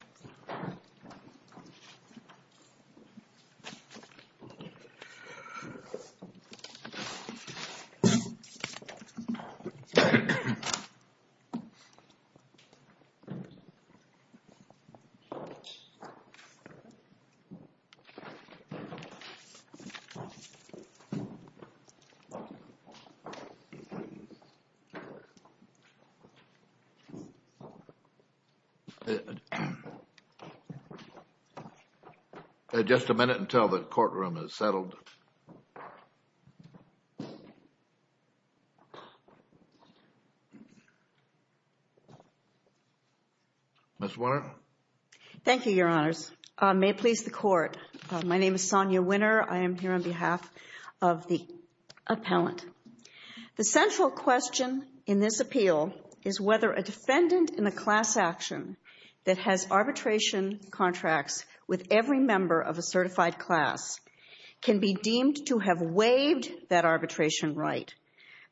Consolidated with Melanie Garcia v. Wells Fargo Bank Thank you, Your Honors. May it please the Court, my name is Sonia Winner. I am here on behalf of the appellant. The central question in this appeal is whether a defendant in a class action that has arbitration contracts with every member of a certified class can be deemed to have waived that arbitration right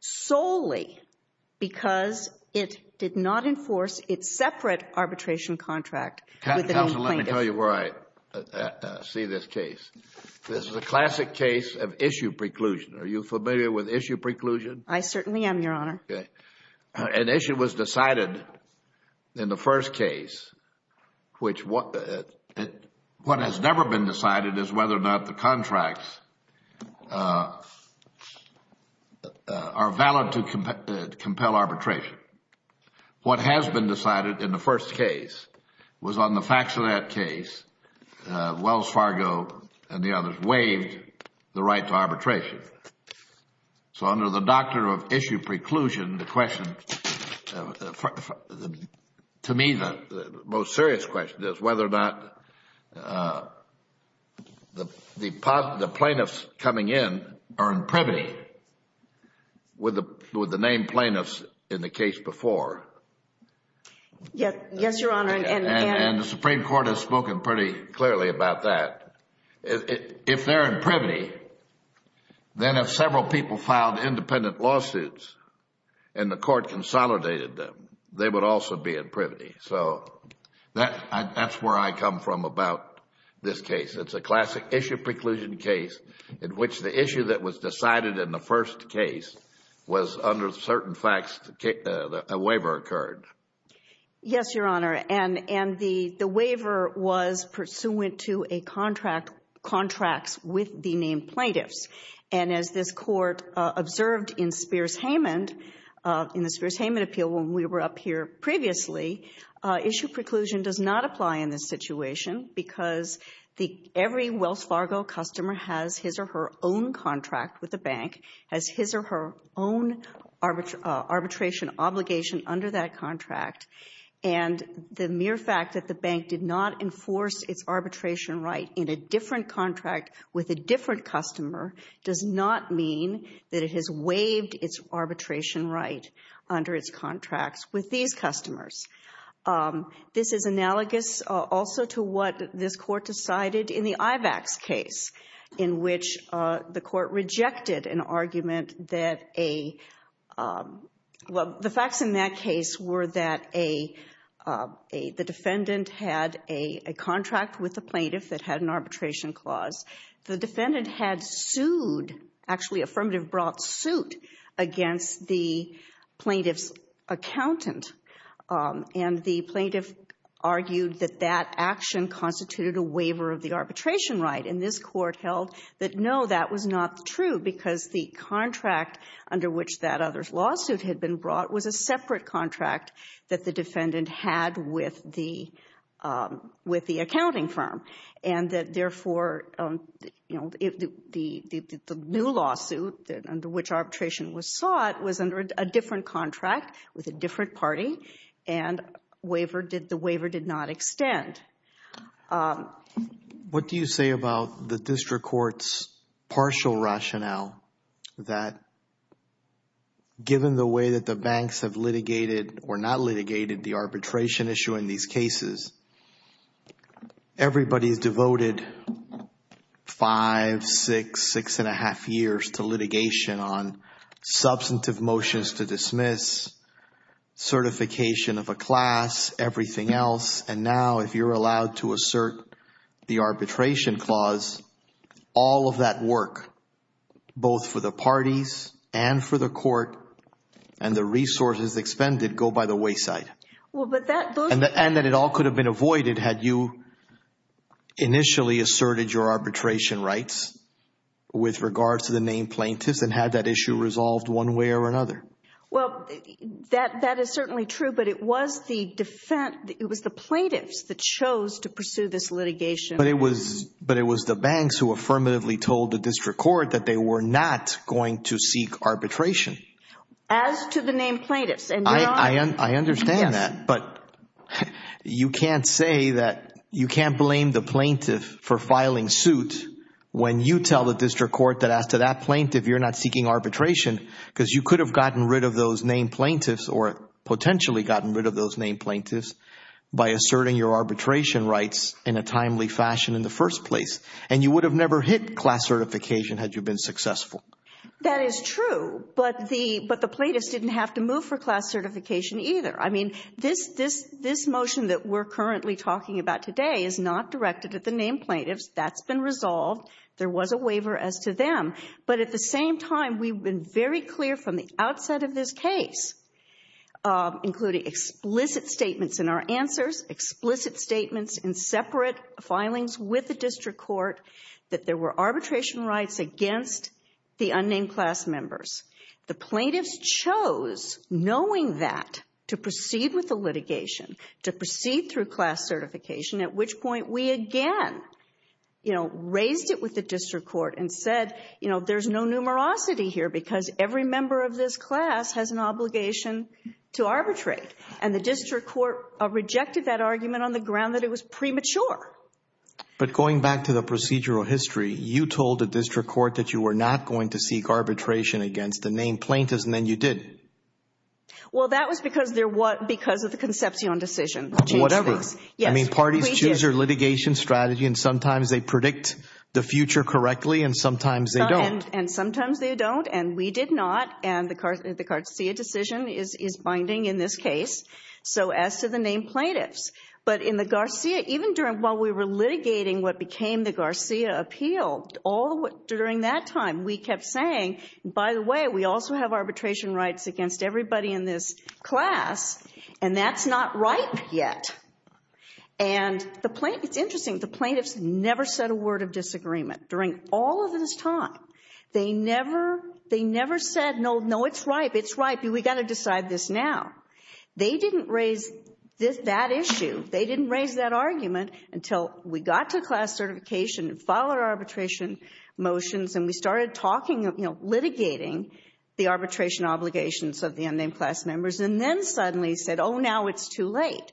solely because it did not enforce its separate arbitration contract with the plaintiff. Counsel, let me tell you where I see this case. This is a classic case of issue preclusion. Are you familiar with issue preclusion? I certainly am, Your Honor. An issue was decided in the first case. What has never been decided is whether or not the contracts are valid to compel arbitration. What has been decided in the first case was on the Faxonet case, Wells Fargo and the others waived the right to arbitration. So under the doctrine of issue preclusion, to me, the most serious question is whether or not the plaintiffs coming in are in privity with the named plaintiffs in the case before. Yes, Your Honor. And the Supreme Court has spoken pretty clearly about that. If they are in privity, then if several people filed independent lawsuits and the court consolidated them, they would also be in privity. So that's where I come from about this case. It's a classic issue preclusion case in which the issue that was decided in the first case was under certain facts a waiver occurred. Yes, Your Honor. And the waiver was pursuant to a contract, contracts with the named plaintiffs. And as this Court observed in Spears-Haymond, in the Spears-Haymond appeal when we were up here previously, issue preclusion does not apply in this situation because the every Wells Fargo customer has his or her own contract with the bank, has his or her own arbitration obligation under that contract. And the mere fact that the bank did not enforce its arbitration right in a different contract with a different customer does not mean that it has waived its arbitration right under its contracts with these customers. This is analogous also to what this Court decided in the IVACS case in which the Court rejected an argument that a, well, the facts in that case were that a, the defendant had a contract with the plaintiff that had an arbitration clause. The defendant had sued, actually affirmative brought suit against the plaintiff's accountant, and the plaintiff argued that that action constituted a waiver of the arbitration right. And this Court held that, no, that was not true because the contract under which that other's lawsuit had been brought was a separate contract that the defendant had with the, with the accounting firm. And that, therefore, you know, the new lawsuit under which arbitration was sought was under a different contract with a different party, and waiver did, the waiver did not extend. What do you say about the District Court's partial rationale that given the way that the banks have litigated or not litigated the arbitration issue in these cases, everybody's devoted five, six, six and a half years to litigation on substantive motions to dismiss, certification of a class, everything else, and now if you're allowed to assert the arbitration clause, all of that work, both for the parties and for the Court, and the resources expended, go by the wayside, and that it all could have been avoided had you initially asserted your arbitration rights with regards to the named plaintiffs and had that issue resolved one way or another? Well, that, that is certainly true, but it was the defendant, it was the plaintiffs that chose to pursue this litigation. But it was, but it was the banks who affirmatively told the District Court that they were not going to seek arbitration. As to the named plaintiffs, and you're on... I understand that, but you can't say that, you can't blame the plaintiff for filing suit when you tell the District Court that as to that plaintiff, you're not seeking arbitration because you could have gotten rid of those named plaintiffs or potentially gotten rid of those named plaintiffs by asserting your arbitration rights in a timely fashion in the first place, and you would have never hit class certification had you been successful. That is true, but the, but the plaintiffs didn't have to move for class certification either. I mean, this, this, this motion that we're currently talking about today is not directed at the named plaintiffs. That's been resolved. There was a waiver as to them. But at the same time, we've been very clear from the outset of this case, including explicit statements in our answers, explicit statements in separate filings with the District Court that there were arbitration rights against the unnamed class members. The plaintiffs chose, knowing that, to proceed with the litigation, to proceed through class certification, at which point we again, you know, raised it with the District Court and said, you know, there's no numerosity here because every member of this class has an obligation to arbitrate. And the District Court rejected that argument on the ground that it was premature. But going back to the procedural history, you told the District Court that you were not going to seek arbitration against the named plaintiffs, and then you did. Well, that was because they're what, because of the conception on decision to change things. I mean, parties choose their litigation strategy and sometimes they predict the future correctly and sometimes they don't. And sometimes they don't, and we did not. And the Garcia decision is binding in this case. So as to the named plaintiffs, but in the Garcia, even during, while we were litigating what became the Garcia appeal, all during that time, we kept saying, by the way, we also have arbitration rights against everybody in this class. And that's not right yet. And the plaintiffs, it's interesting, the plaintiffs never said a word of disagreement during all of this time. They never, they never said, no, no, it's right, it's right, but we've got to decide this now. They didn't raise that issue. They didn't raise that argument until we got to class certification and filed our arbitration motions, and we started talking, you know, litigating the arbitration obligations of the unnamed class members, and then suddenly said, oh, now it's too late.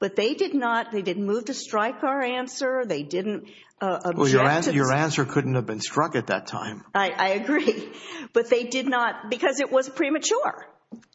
But they did not, they didn't move to strike our answer. They didn't object. Your answer couldn't have been struck at that time. I agree. But they did not, because it was premature.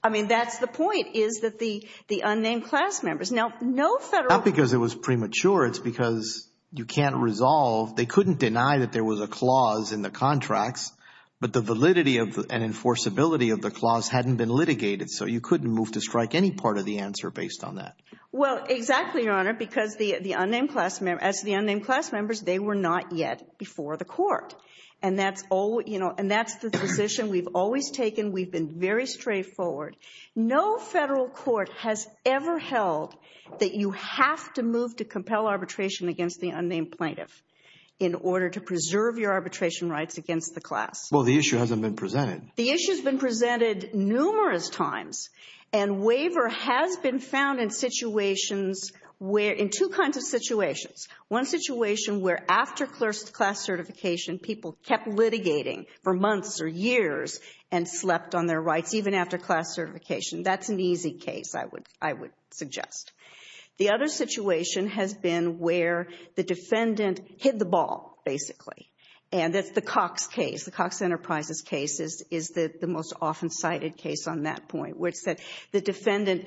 I mean, that's the point, is that the, the unnamed class members, now, no federal. Not because it was premature. It's because you can't resolve, they couldn't deny that there was a clause in the contracts, but the validity and enforceability of the clause hadn't been litigated, so you couldn't move to strike any part of the answer based on that. Well, exactly, Your Honor, because the unnamed class members, as the unnamed class members, they were not yet before the court. And that's all, you know, and that's the position we've always taken. We've been very straightforward. No federal court has ever held that you have to move to compel arbitration against the class. Well, the issue hasn't been presented. The issue's been presented numerous times, and waiver has been found in situations where, in two kinds of situations. One situation where after class certification, people kept litigating for months or years and slept on their rights, even after class certification. That's an easy case, I would, I would suggest. The other situation has been where the defendant hit the ball, basically. And that's the Cox case, the Cox Enterprises case is the most often cited case on that point, where it said the defendant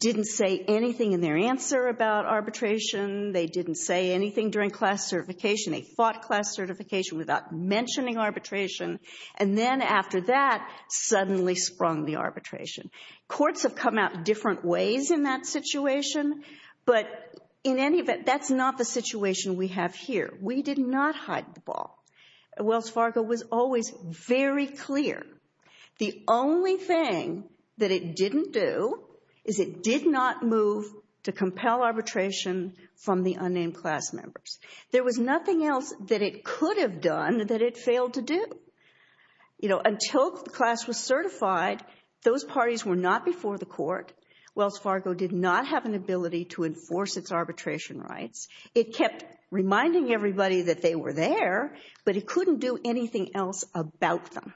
didn't say anything in their answer about arbitration, they didn't say anything during class certification, they fought class certification without mentioning arbitration, and then after that, suddenly sprung the arbitration. Courts have come out different ways in that situation, but in any event, that's not the situation we have here. We did not hide the ball. Wells Fargo was always very clear. The only thing that it didn't do is it did not move to compel arbitration from the unnamed class members. There was nothing else that it could have done that it failed to do. You know, until the class was certified, those parties were not before the court. Wells Fargo did not have an ability to enforce its arbitration rights. It kept reminding everybody that they were there, but it couldn't do anything else about them.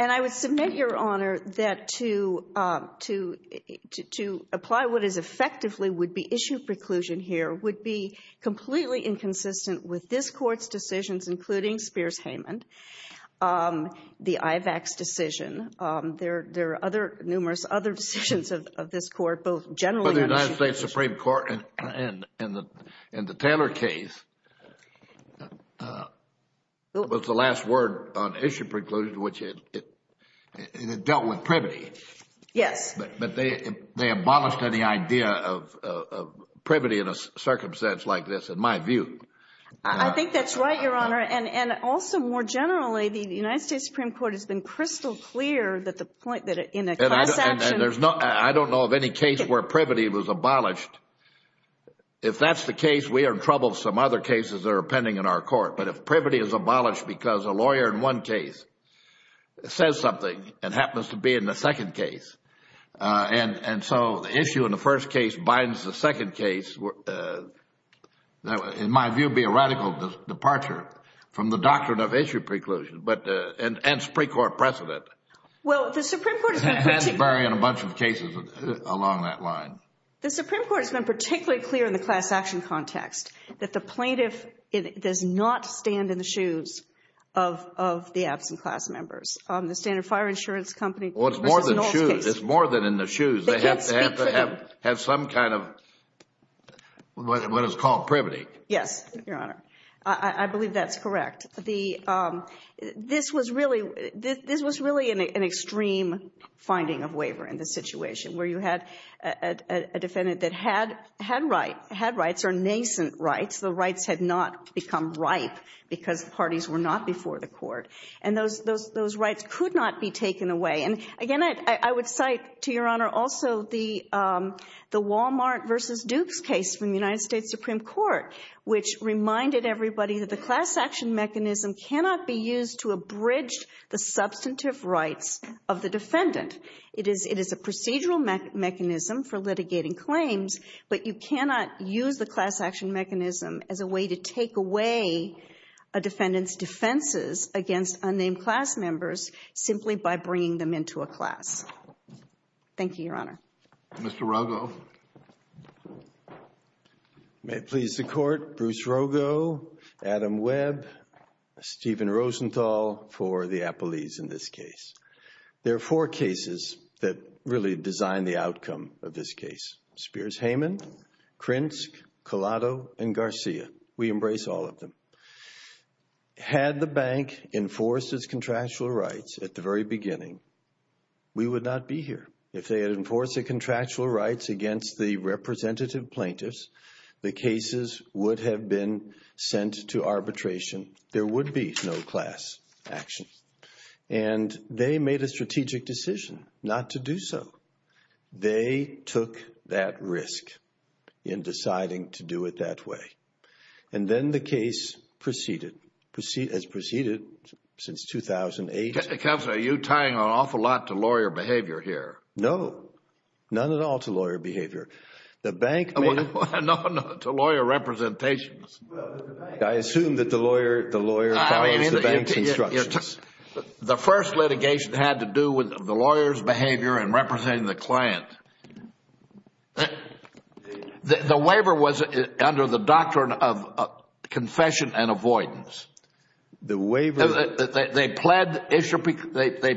And I would submit, Your Honor, that to apply what is effectively would-be issue preclusion here would be completely inconsistent with this Court's decisions, including Spears-Haymond, the IVAC's decision, there are other, numerous other decisions of this Court, both generally But the United States Supreme Court, in the Taylor case, was the last word on issue preclusion, which it dealt with privity. Yes. But they abolished any idea of privity in a circumstance like this, in my view. I think that's right, Your Honor, and also more generally, the United States Supreme Court has been crystal clear that the point that in a class action And there's no, I don't know of any case where privity was abolished. If that's the case, we are in trouble with some other cases that are pending in our court. But if privity is abolished because a lawyer in one case says something and happens to be in the second case, and so the issue in the first case binds the second case, that in my view would be a radical departure from the doctrine of issue preclusion, and hence pre-court precedent. Well, the Supreme Court has been particularly clear in the class action context that the plaintiff does not stand in the shoes of the absent class members. The Standard Fire Insurance Company, Mr. Knoll's case. Well, it's more than in the shoes. They have to have some kind of what is called privity. Yes, Your Honor. I believe that's correct. This was really an extreme finding of waiver in this situation where you had a defendant that had rights or nascent rights. The rights had not become ripe because the parties were not before the court. And those rights could not be taken away. And again, I would cite to Your Honor also the Walmart v. Dukes case from the United States. The class action mechanism cannot be used to abridge the substantive rights of the defendant. It is a procedural mechanism for litigating claims, but you cannot use the class action mechanism as a way to take away a defendant's defenses against unnamed class members simply by bringing them into a class. Thank you, Your Honor. Mr. Rogo. May it please the Court, Bruce Rogo, Adam Webb, Stephen Rosenthal for the Appellees in this case. There are four cases that really design the outcome of this case. Spears-Hayman, Krinsk, Collado, and Garcia. We embrace all of them. Had the bank enforced its contractual rights at the very beginning, we would not be here. If they had enforced the contractual rights against the representative plaintiffs, the cases would have been sent to arbitration. There would be no class action. And they made a strategic decision not to do so. They took that risk in deciding to do it that way. And then the case proceeded, as proceeded since 2008. Counsel, are you tying an awful lot to lawyer behavior here? No. None at all to lawyer behavior. The bank made... No, no. To lawyer representations. I assume that the lawyer follows the bank's instructions. The first litigation had to do with the lawyer's behavior in representing the client. The waiver... They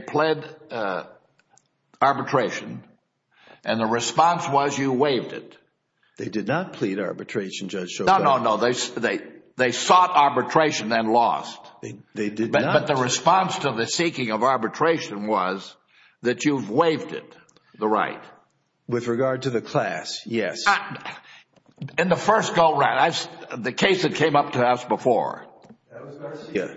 pled arbitration, and the response was you waived it. They did not plead arbitration, Judge Schovane. No, no, no. They sought arbitration and lost. They did not. But the response to the seeking of arbitration was that you've waived it, the right. With regard to the class, yes. In the first go-round, the case that came up to us before... That was Garcia. Yeah.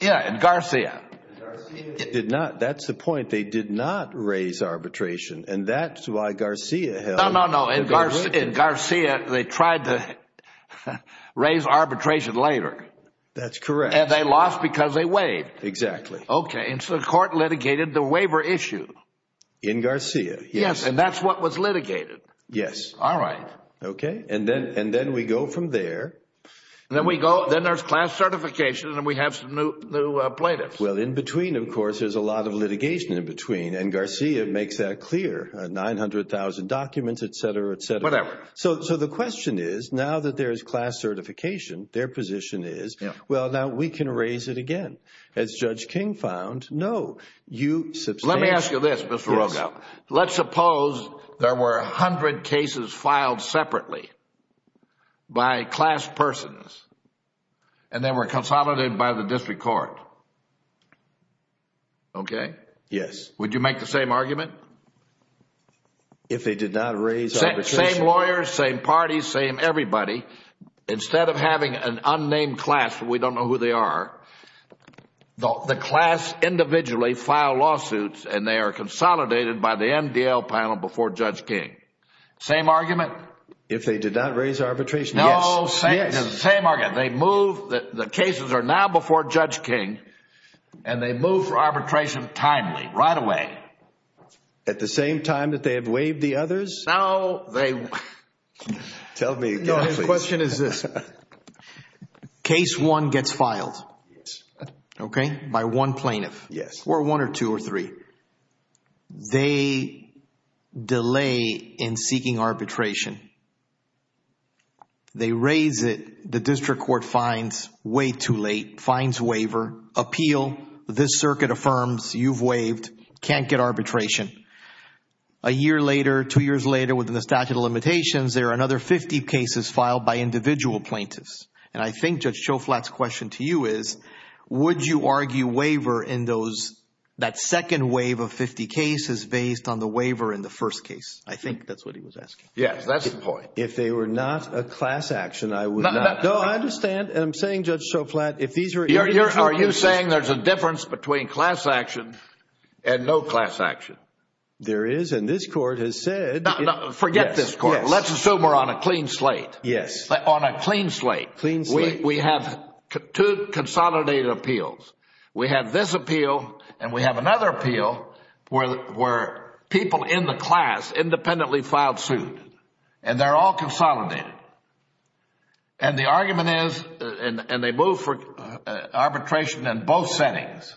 Yeah. In Garcia. In Garcia, they did not... That's the point. They did not raise arbitration, and that's why Garcia held... No, no, no. In Garcia, they tried to raise arbitration later. That's correct. And they lost because they waived. Exactly. Okay. And so the court litigated the waiver issue. In Garcia, yes. Yes. And that's what was litigated. Yes. All right. Okay. And then we go from there. And then we go... Then there's class certification, and then we have some new plaintiffs. Well, in between, of course, there's a lot of litigation in between, and Garcia makes that clear, 900,000 documents, et cetera, et cetera. Whatever. So the question is, now that there's class certification, their position is, well, now we can raise it again. As Judge King found, no. You substantiate... Let me ask you this, Mr. Rogoff. Let's suppose there were 100 cases filed separately by class persons, and they were consolidated by the district court. Okay? Yes. Would you make the same argument? If they did not raise arbitration... Same lawyers, same parties, same everybody. Instead of having an unnamed class, we don't know who they are, the class individually file lawsuits, and they are consolidated by the MDL panel before Judge King. Same argument? If they did not raise arbitration, yes. No, same argument. They move... The cases are now before Judge King, and they move for arbitration timely, right away. At the same time that they have waived the others? No, they... Tell me again, please. No, the question is this. Case one gets filed, okay, by one plaintiff. Yes. Or one or two or three. They delay in seeking arbitration. They raise it, the district court finds way too late, finds waiver, appeal, this circuit affirms you've waived, can't get arbitration. A year later, two years later within the statute of limitations, there are another 50 cases filed by individual plaintiffs, and I think Judge Schoflat's question to you is, would you argue waiver in that second wave of 50 cases based on the waiver in the first case? I think that's what he was asking. Yes, that's the point. If they were not a class action, I would not... No, I understand. I'm saying, Judge Schoflat, if these were... Are you saying there's a difference between class action and no class action? There is, and this court has said... Forget this court. Yes. On a clean slate. Clean slate. We have two consolidated appeals. We have this appeal and we have another appeal where people in the class independently filed suit and they're all consolidated. The argument is, and they move for arbitration in both settings,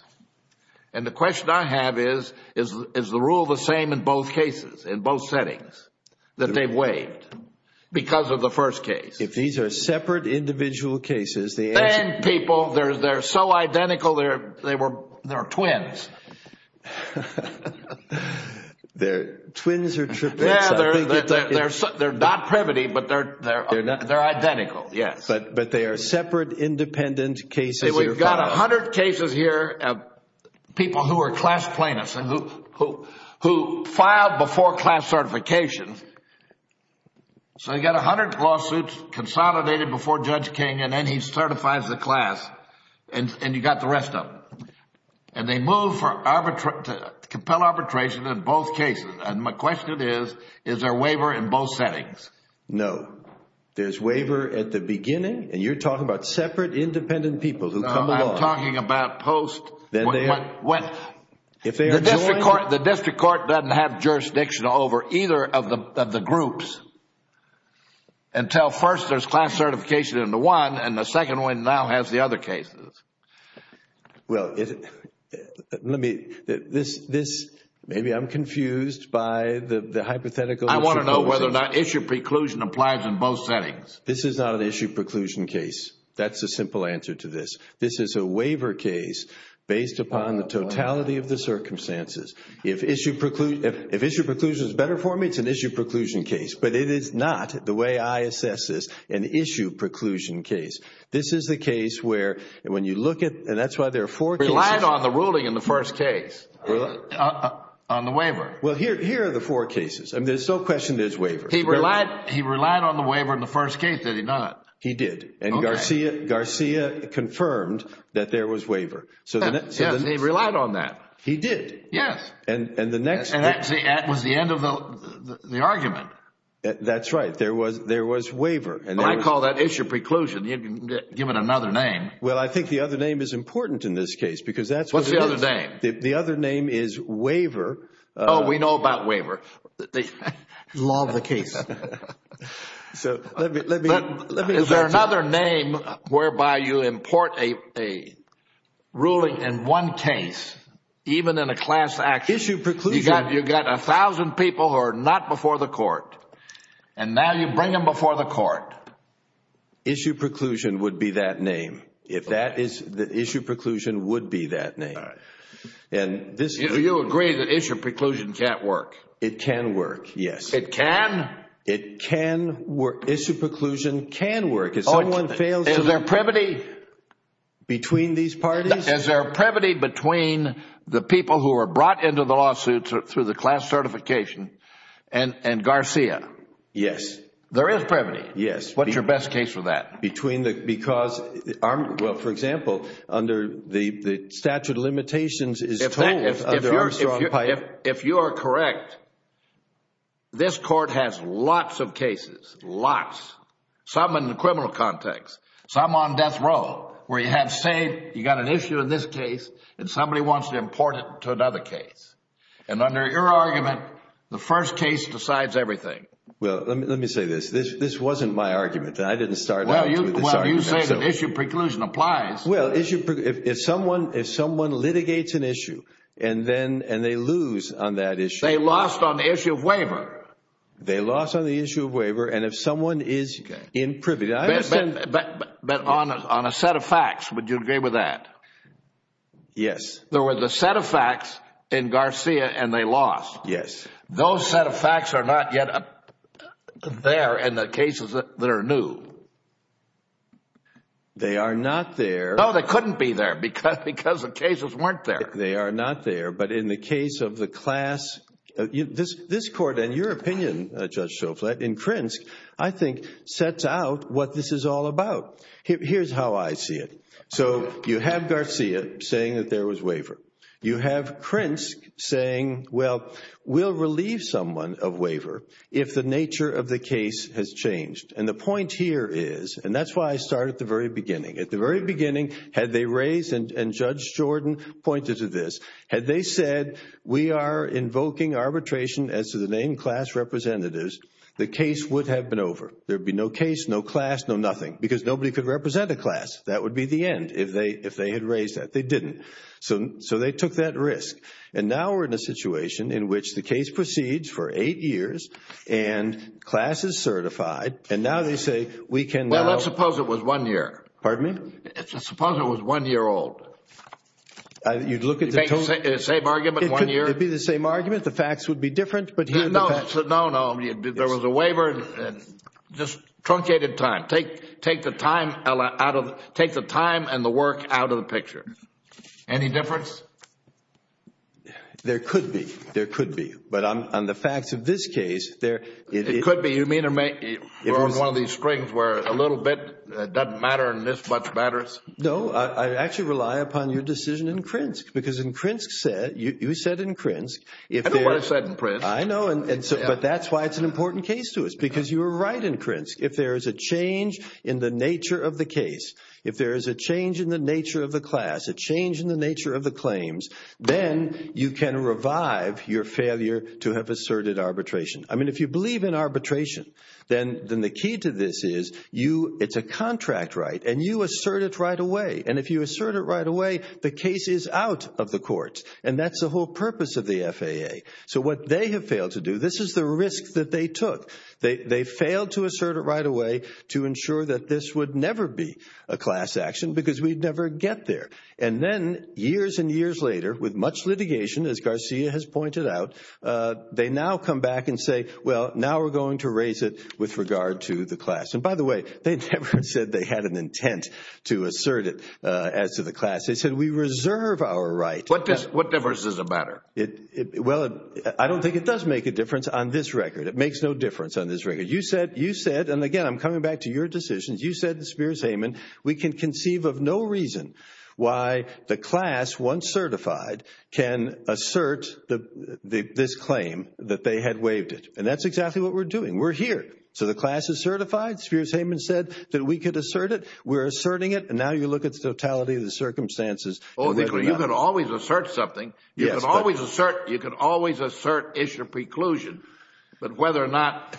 and the question I have is, is the rule the same in both cases, in both settings, that they've waived because of the first case? If these are separate individual cases, the answer... Then, people, they're so identical, they're twins. They're twins or triplets, I think it's... They're not primitive, but they're identical, yes. But they are separate, independent cases that are filed. We've got a hundred cases here of people who are class plaintiffs and who filed before class certification, so you've got a hundred lawsuits consolidated before Judge King and then he certifies the class, and you've got the rest of them. They move to compel arbitration in both cases, and my question is, is there waiver in both settings? No. There's waiver at the beginning, and you're talking about separate, independent people who come along. No, I'm talking about post... Then, they are... The district court doesn't have jurisdiction over either of the groups until first there's class certification in the one, and the second one now has the other cases. Well, let me... Maybe I'm confused by the hypothetical... I want to know whether or not issue preclusion applies in both settings. This is not an issue preclusion case. That's the simple answer to this. This is a waiver case based upon the totality of the circumstances. If issue preclusion is better for me, it's an issue preclusion case, but it is not the way I assess this, an issue preclusion case. This is the case where when you look at... and that's why there are four cases... He relied on the ruling in the first case, on the waiver. Well, here are the four cases, and there's no question there's waiver. He relied on the waiver in the first case, did he not? He did. Okay. Garcia confirmed that there was waiver. Yes. He relied on that. He did. Yes. And the next... That was the end of the argument. That's right. There was waiver. I call that issue preclusion, given another name. Well, I think the other name is important in this case because that's what it is. What's the other name? The other name is waiver. We know about waiver. Love the case. Let me... Is there another name whereby you import a ruling in one case, even in a class action? Issue preclusion... You've got a thousand people who are not before the court, and now you bring them before the court. Issue preclusion would be that name. If that is... issue preclusion would be that name. All right. And this... You agree that issue preclusion can't work? It can work, yes. It can? It can work. Issue preclusion can work if someone fails to... Is there a brevity...... between these parties? Is there a brevity between the people who are brought into the lawsuit through the class certification and Garcia? Yes. There is brevity. Yes. What's your best case for that? Between the... because... well, for example, under the statute of limitations is told under Armstrong Piper... There's lots of cases, lots, some in the criminal context, some on death row, where you have... say, you've got an issue in this case, and somebody wants to import it to another case. And under your argument, the first case decides everything. Well, let me say this. This wasn't my argument, and I didn't start out with this argument, so... Well, you say that issue preclusion applies. Well, issue... if someone litigates an issue, and then... and they lose on that issue... They lost on the issue of waiver. They lost on the issue of waiver, and if someone is in privy... But on a set of facts, would you agree with that? Yes. There were the set of facts in Garcia, and they lost. Yes. Those set of facts are not yet there in the cases that are new. They are not there. No, they couldn't be there, because the cases weren't there. They are not there. But in the case of the class... this Court, in your opinion, Judge Schofield, in Krinsk, I think sets out what this is all about. Here's how I see it. So, you have Garcia saying that there was waiver. You have Krinsk saying, well, we'll relieve someone of waiver if the nature of the case has changed. And the point here is, and that's why I started at the very beginning. At the very beginning, had they raised... and Judge Jordan pointed to this. Had they said, we are invoking arbitration as to the name class representatives, the case would have been over. There would be no case, no class, no nothing, because nobody could represent a class. That would be the end if they had raised that. They didn't. So, they took that risk. And now we're in a situation in which the case proceeds for eight years, and class is certified, and now they say, we can now... Well, let's suppose it was one year. Pardon me? Suppose it was one year old. You'd look at the... Same argument, one year? It would be the same argument. The facts would be different. But here... No, no. There was a waiver and just truncated time. Take the time and the work out of the picture. Any difference? There could be. There could be. But on the facts of this case, there... It could be. You mean we're on one of these strings where a little bit doesn't matter and this much matters? No. I actually rely upon your decision in Krinsk. Because in Krinsk, you said in Krinsk... I don't want to say it in Krinsk. I know. But that's why it's an important case to us, because you were right in Krinsk. If there is a change in the nature of the case, if there is a change in the nature of the class, a change in the nature of the claims, then you can revive your failure to have asserted arbitration. I mean, if you believe in arbitration, then the key to this is, it's a contract right, and you assert it right away. And if you assert it right away, the case is out of the courts. And that's the whole purpose of the FAA. So what they have failed to do, this is the risk that they took. They failed to assert it right away to ensure that this would never be a class action, because we'd never get there. And then, years and years later, with much litigation, as Garcia has pointed out, they now come back and say, well, now we're going to raise it with regard to the class. And by the way, they never said they had an intent to assert it as to the class. They said, we reserve our right. What difference does it matter? Well, I don't think it does make a difference on this record. It makes no difference on this record. You said, you said, and again, I'm coming back to your decisions. You said, Spears Hayman, we can conceive of no reason why the class, once certified, can assert this claim that they had waived it. And that's exactly what we're doing. We're here. We're here. So, the class is certified. Spears Hayman said that we could assert it. We're asserting it. And now you look at the totality of the circumstances and whether or not- You can always assert something. You can always assert issue preclusion, but whether or not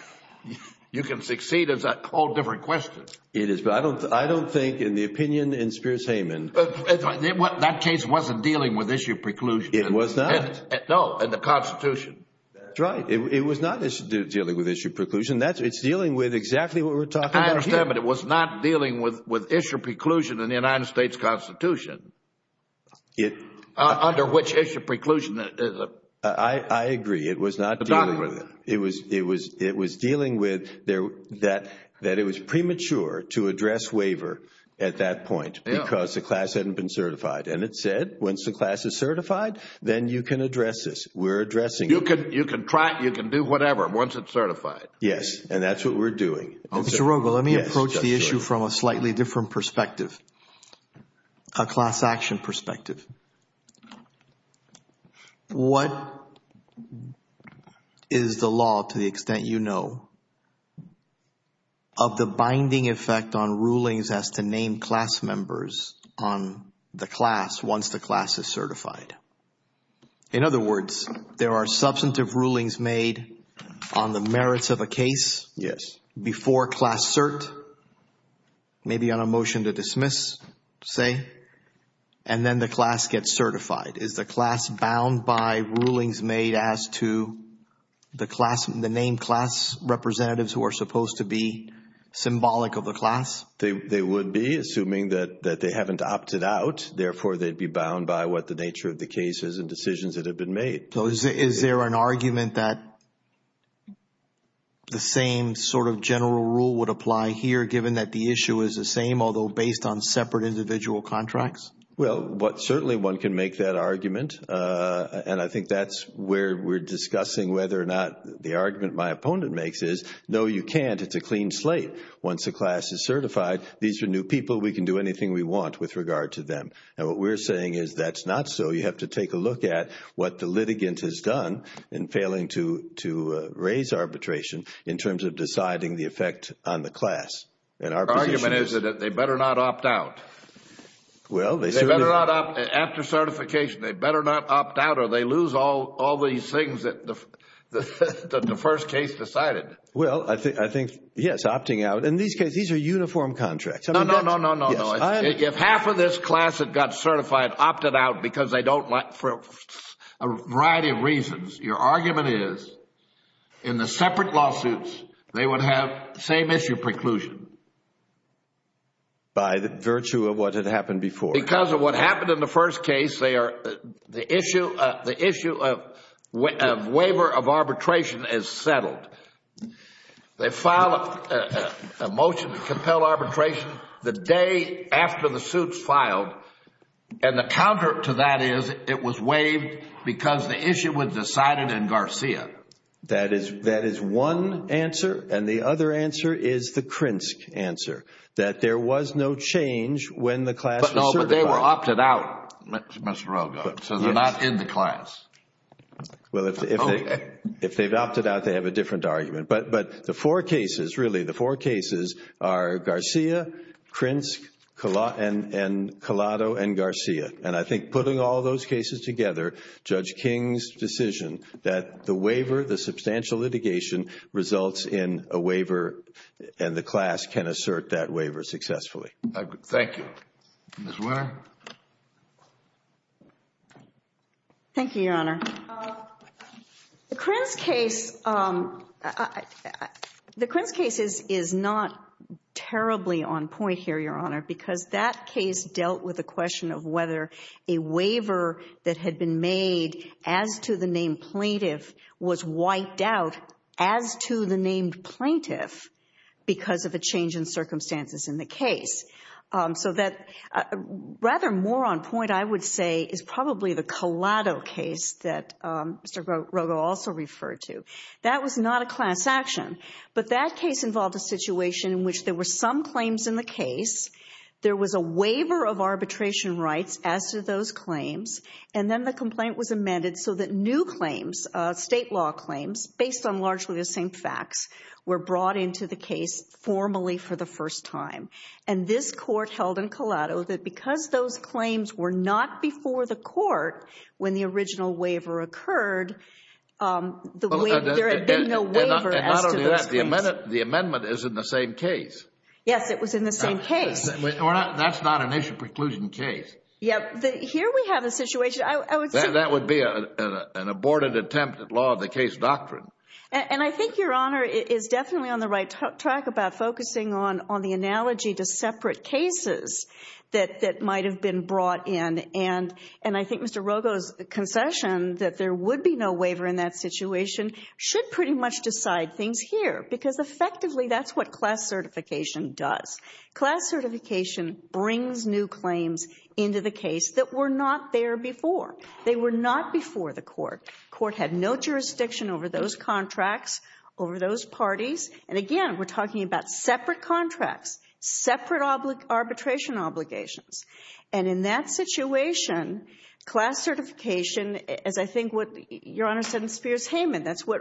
you can succeed is a whole different question. It is. But I don't think, in the opinion in Spears Hayman- That case wasn't dealing with issue preclusion. It was not? No, in the Constitution. That's right. It was not dealing with issue preclusion. It's dealing with exactly what we're talking about here. I understand, but it was not dealing with issue preclusion in the United States Constitution. Under which issue preclusion is it? I agree. It was not dealing with it. It was dealing with that it was premature to address waiver at that point because the class hadn't been certified. And it said, once the class is certified, then you can address this. You can try it. You can do whatever once it's certified. Yes. And that's what we're doing. Mr. Rogo, let me approach the issue from a slightly different perspective, a class action perspective. What is the law, to the extent you know, of the binding effect on rulings as to name class members on the class once the class is certified? In other words, there are substantive rulings made on the merits of a case before class cert, maybe on a motion to dismiss, say, and then the class gets certified. Is the class bound by rulings made as to the name class representatives who are supposed to be symbolic of the class? They would be, assuming that they haven't opted out. Therefore, they'd be bound by what the nature of the case is and decisions that have been made. So, is there an argument that the same sort of general rule would apply here, given that the issue is the same, although based on separate individual contracts? Well, certainly one can make that argument. And I think that's where we're discussing whether or not the argument my opponent makes is, no, you can't. It's a clean slate. Once the class is certified, these are new people. We can do anything we want with regard to them. And what we're saying is that's not so. You have to take a look at what the litigant has done in failing to raise arbitration in terms of deciding the effect on the class. And our position is— The argument is that they better not opt out. Well, they certainly— They better not opt out. After certification, they better not opt out or they lose all these things that the first case decided. Well, I think, yes, opting out. In these cases, these are uniform contracts. No, no, no, no, no, no. If half of this class had got certified, opted out because they don't like—for a variety of reasons, your argument is in the separate lawsuits, they would have the same issue preclusion. By virtue of what had happened before. Because of what happened in the first case, they are—the issue of waiver of arbitration is settled. They file a motion to compel arbitration the day after the suit's filed. And the counter to that is it was waived because the issue was decided in Garcia. That is one answer. And the other answer is the Krinsk answer, that there was no change when the class was certified. But they were opted out, Mr. Rogoff, so they're not in the class. Well, if they've opted out, they have a different argument. But the four cases, really, the four cases are Garcia, Krinsk, Collado, and Garcia. And I think putting all those cases together, Judge King's decision that the waiver, the substantial litigation, results in a waiver and the class can assert that waiver successfully. Thank you. Ms. Wehner. Thank you, Your Honor. The Krinsk case—the Krinsk case is not terribly on point here, Your Honor, because that case dealt with the question of whether a waiver that had been made as to the name plaintiff was wiped out as to the name plaintiff because of a change in circumstances in the case. So that rather more on point, I would say, is probably the Collado case that Mr. Rogoff also referred to. That was not a class action. But that case involved a situation in which there were some claims in the case. There was a waiver of arbitration rights as to those claims. And then the complaint was amended so that new claims, state law claims, based on largely the same facts, were brought into the case formally for the first time. And this court held in Collado that because those claims were not before the court when the original waiver occurred, there had been no waiver as to those claims. And not only that, the amendment is in the same case. Yes, it was in the same case. That's not an issue preclusion case. Yes. Here we have a situation, I would say— That would be an aborted attempt at law of the case doctrine. And I think Your Honor is definitely on the right track about focusing on the analogy to separate cases that might have been brought in. And I think Mr. Rogoff's concession that there would be no waiver in that situation should pretty much decide things here. Because effectively, that's what class certification does. Class certification brings new claims into the case that were not there before. They were not before the court. Court had no jurisdiction over those contracts, over those parties. And again, we're talking about separate contracts, separate arbitration obligations. And in that situation, class certification, as I think what Your Honor said in Spears-Hayman, that's what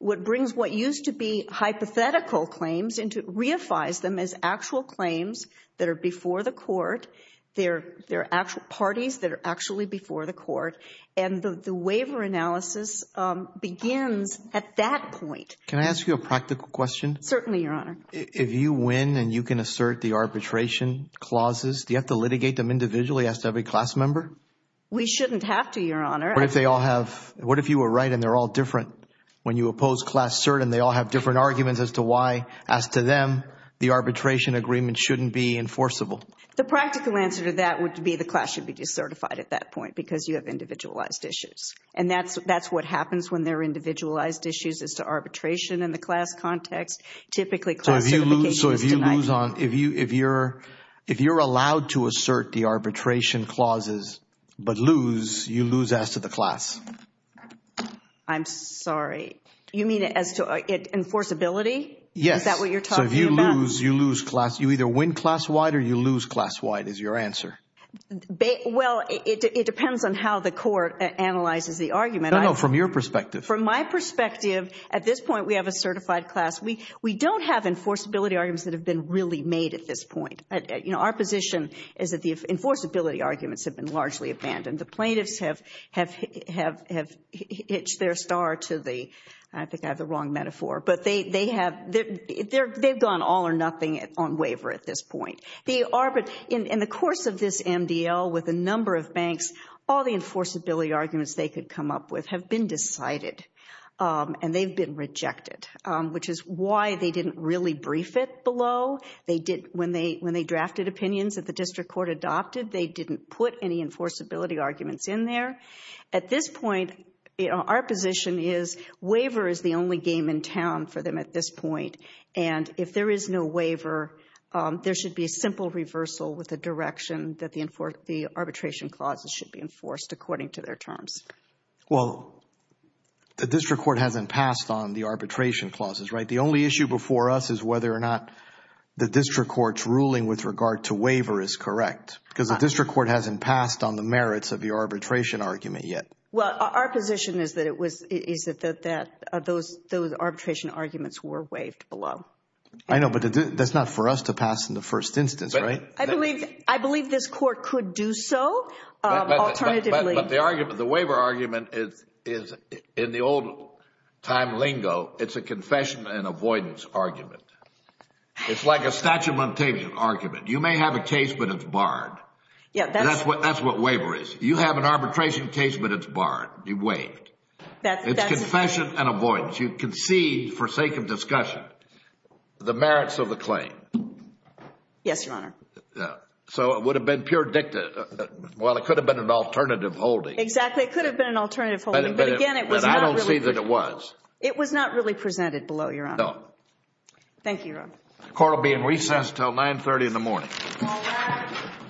brings what used to be hypothetical claims and reifies them as actual claims that are before the court. They're actual parties that are actually before the court. And the waiver analysis begins at that point. Can I ask you a practical question? Certainly, Your Honor. If you win and you can assert the arbitration clauses, do you have to litigate them individually as to every class member? We shouldn't have to, Your Honor. What if they all have—what if you were right and they're all different? When you oppose class cert and they all have different arguments as to why, as to them, the arbitration agreement shouldn't be enforceable? The practical answer to that would be the class should be decertified at that point because you have individualized issues. And that's what happens when there are individualized issues as to arbitration in the class context. Typically class certification is denied. So if you lose on—if you're allowed to assert the arbitration clauses but lose, you lose as to the class? I'm sorry. You mean as to enforceability? Yes. Is that what you're talking about? So if you lose, you lose class. You either win class-wide or you lose class-wide is your answer. Well, it depends on how the court analyzes the argument. No, no. From your perspective. From my perspective, at this point we have a certified class. We don't have enforceability arguments that have been really made at this point. Our position is that the enforceability arguments have been largely abandoned. The plaintiffs have hitched their star to the—I think I have the wrong metaphor. But they have—they've gone all or nothing on waiver at this point. The arbit—in the course of this MDL with a number of banks, all the enforceability arguments they could come up with have been decided and they've been rejected, which is why they didn't really brief it below. They didn't—when they drafted opinions that the district court adopted, they didn't put any enforceability arguments in there. At this point, our position is waiver is the only game in town for them at this point. And if there is no waiver, there should be a simple reversal with the direction that the arbitration clauses should be enforced according to their terms. Well, the district court hasn't passed on the arbitration clauses, right? The only issue before us is whether or not the district court's ruling with regard to waiver is correct because the district court hasn't passed on the merits of the arbitration argument yet. Well, our position is that it was—is that those arbitration arguments were waived below. I know, but that's not for us to pass in the first instance, right? I believe this court could do so, alternatively. But the argument—the waiver argument is, in the old time lingo, it's a confession and avoidance argument. It's like a statement argument. You may have a case, but it's barred. Yeah, that's— That's what waiver is. You have an arbitration case, but it's barred. You waived. That's— It's confession and avoidance. You concede, forsake in discussion the merits of the claim. Yes, Your Honor. So it would have been pure dicta—well, it could have been an alternative holding. Exactly. It could have been an alternative holding. But again, it was not really— But I don't see that it was. It was not really presented below, Your Honor. No. Thank you, Your Honor. The court will be in recess until 930 in the morning. All rise.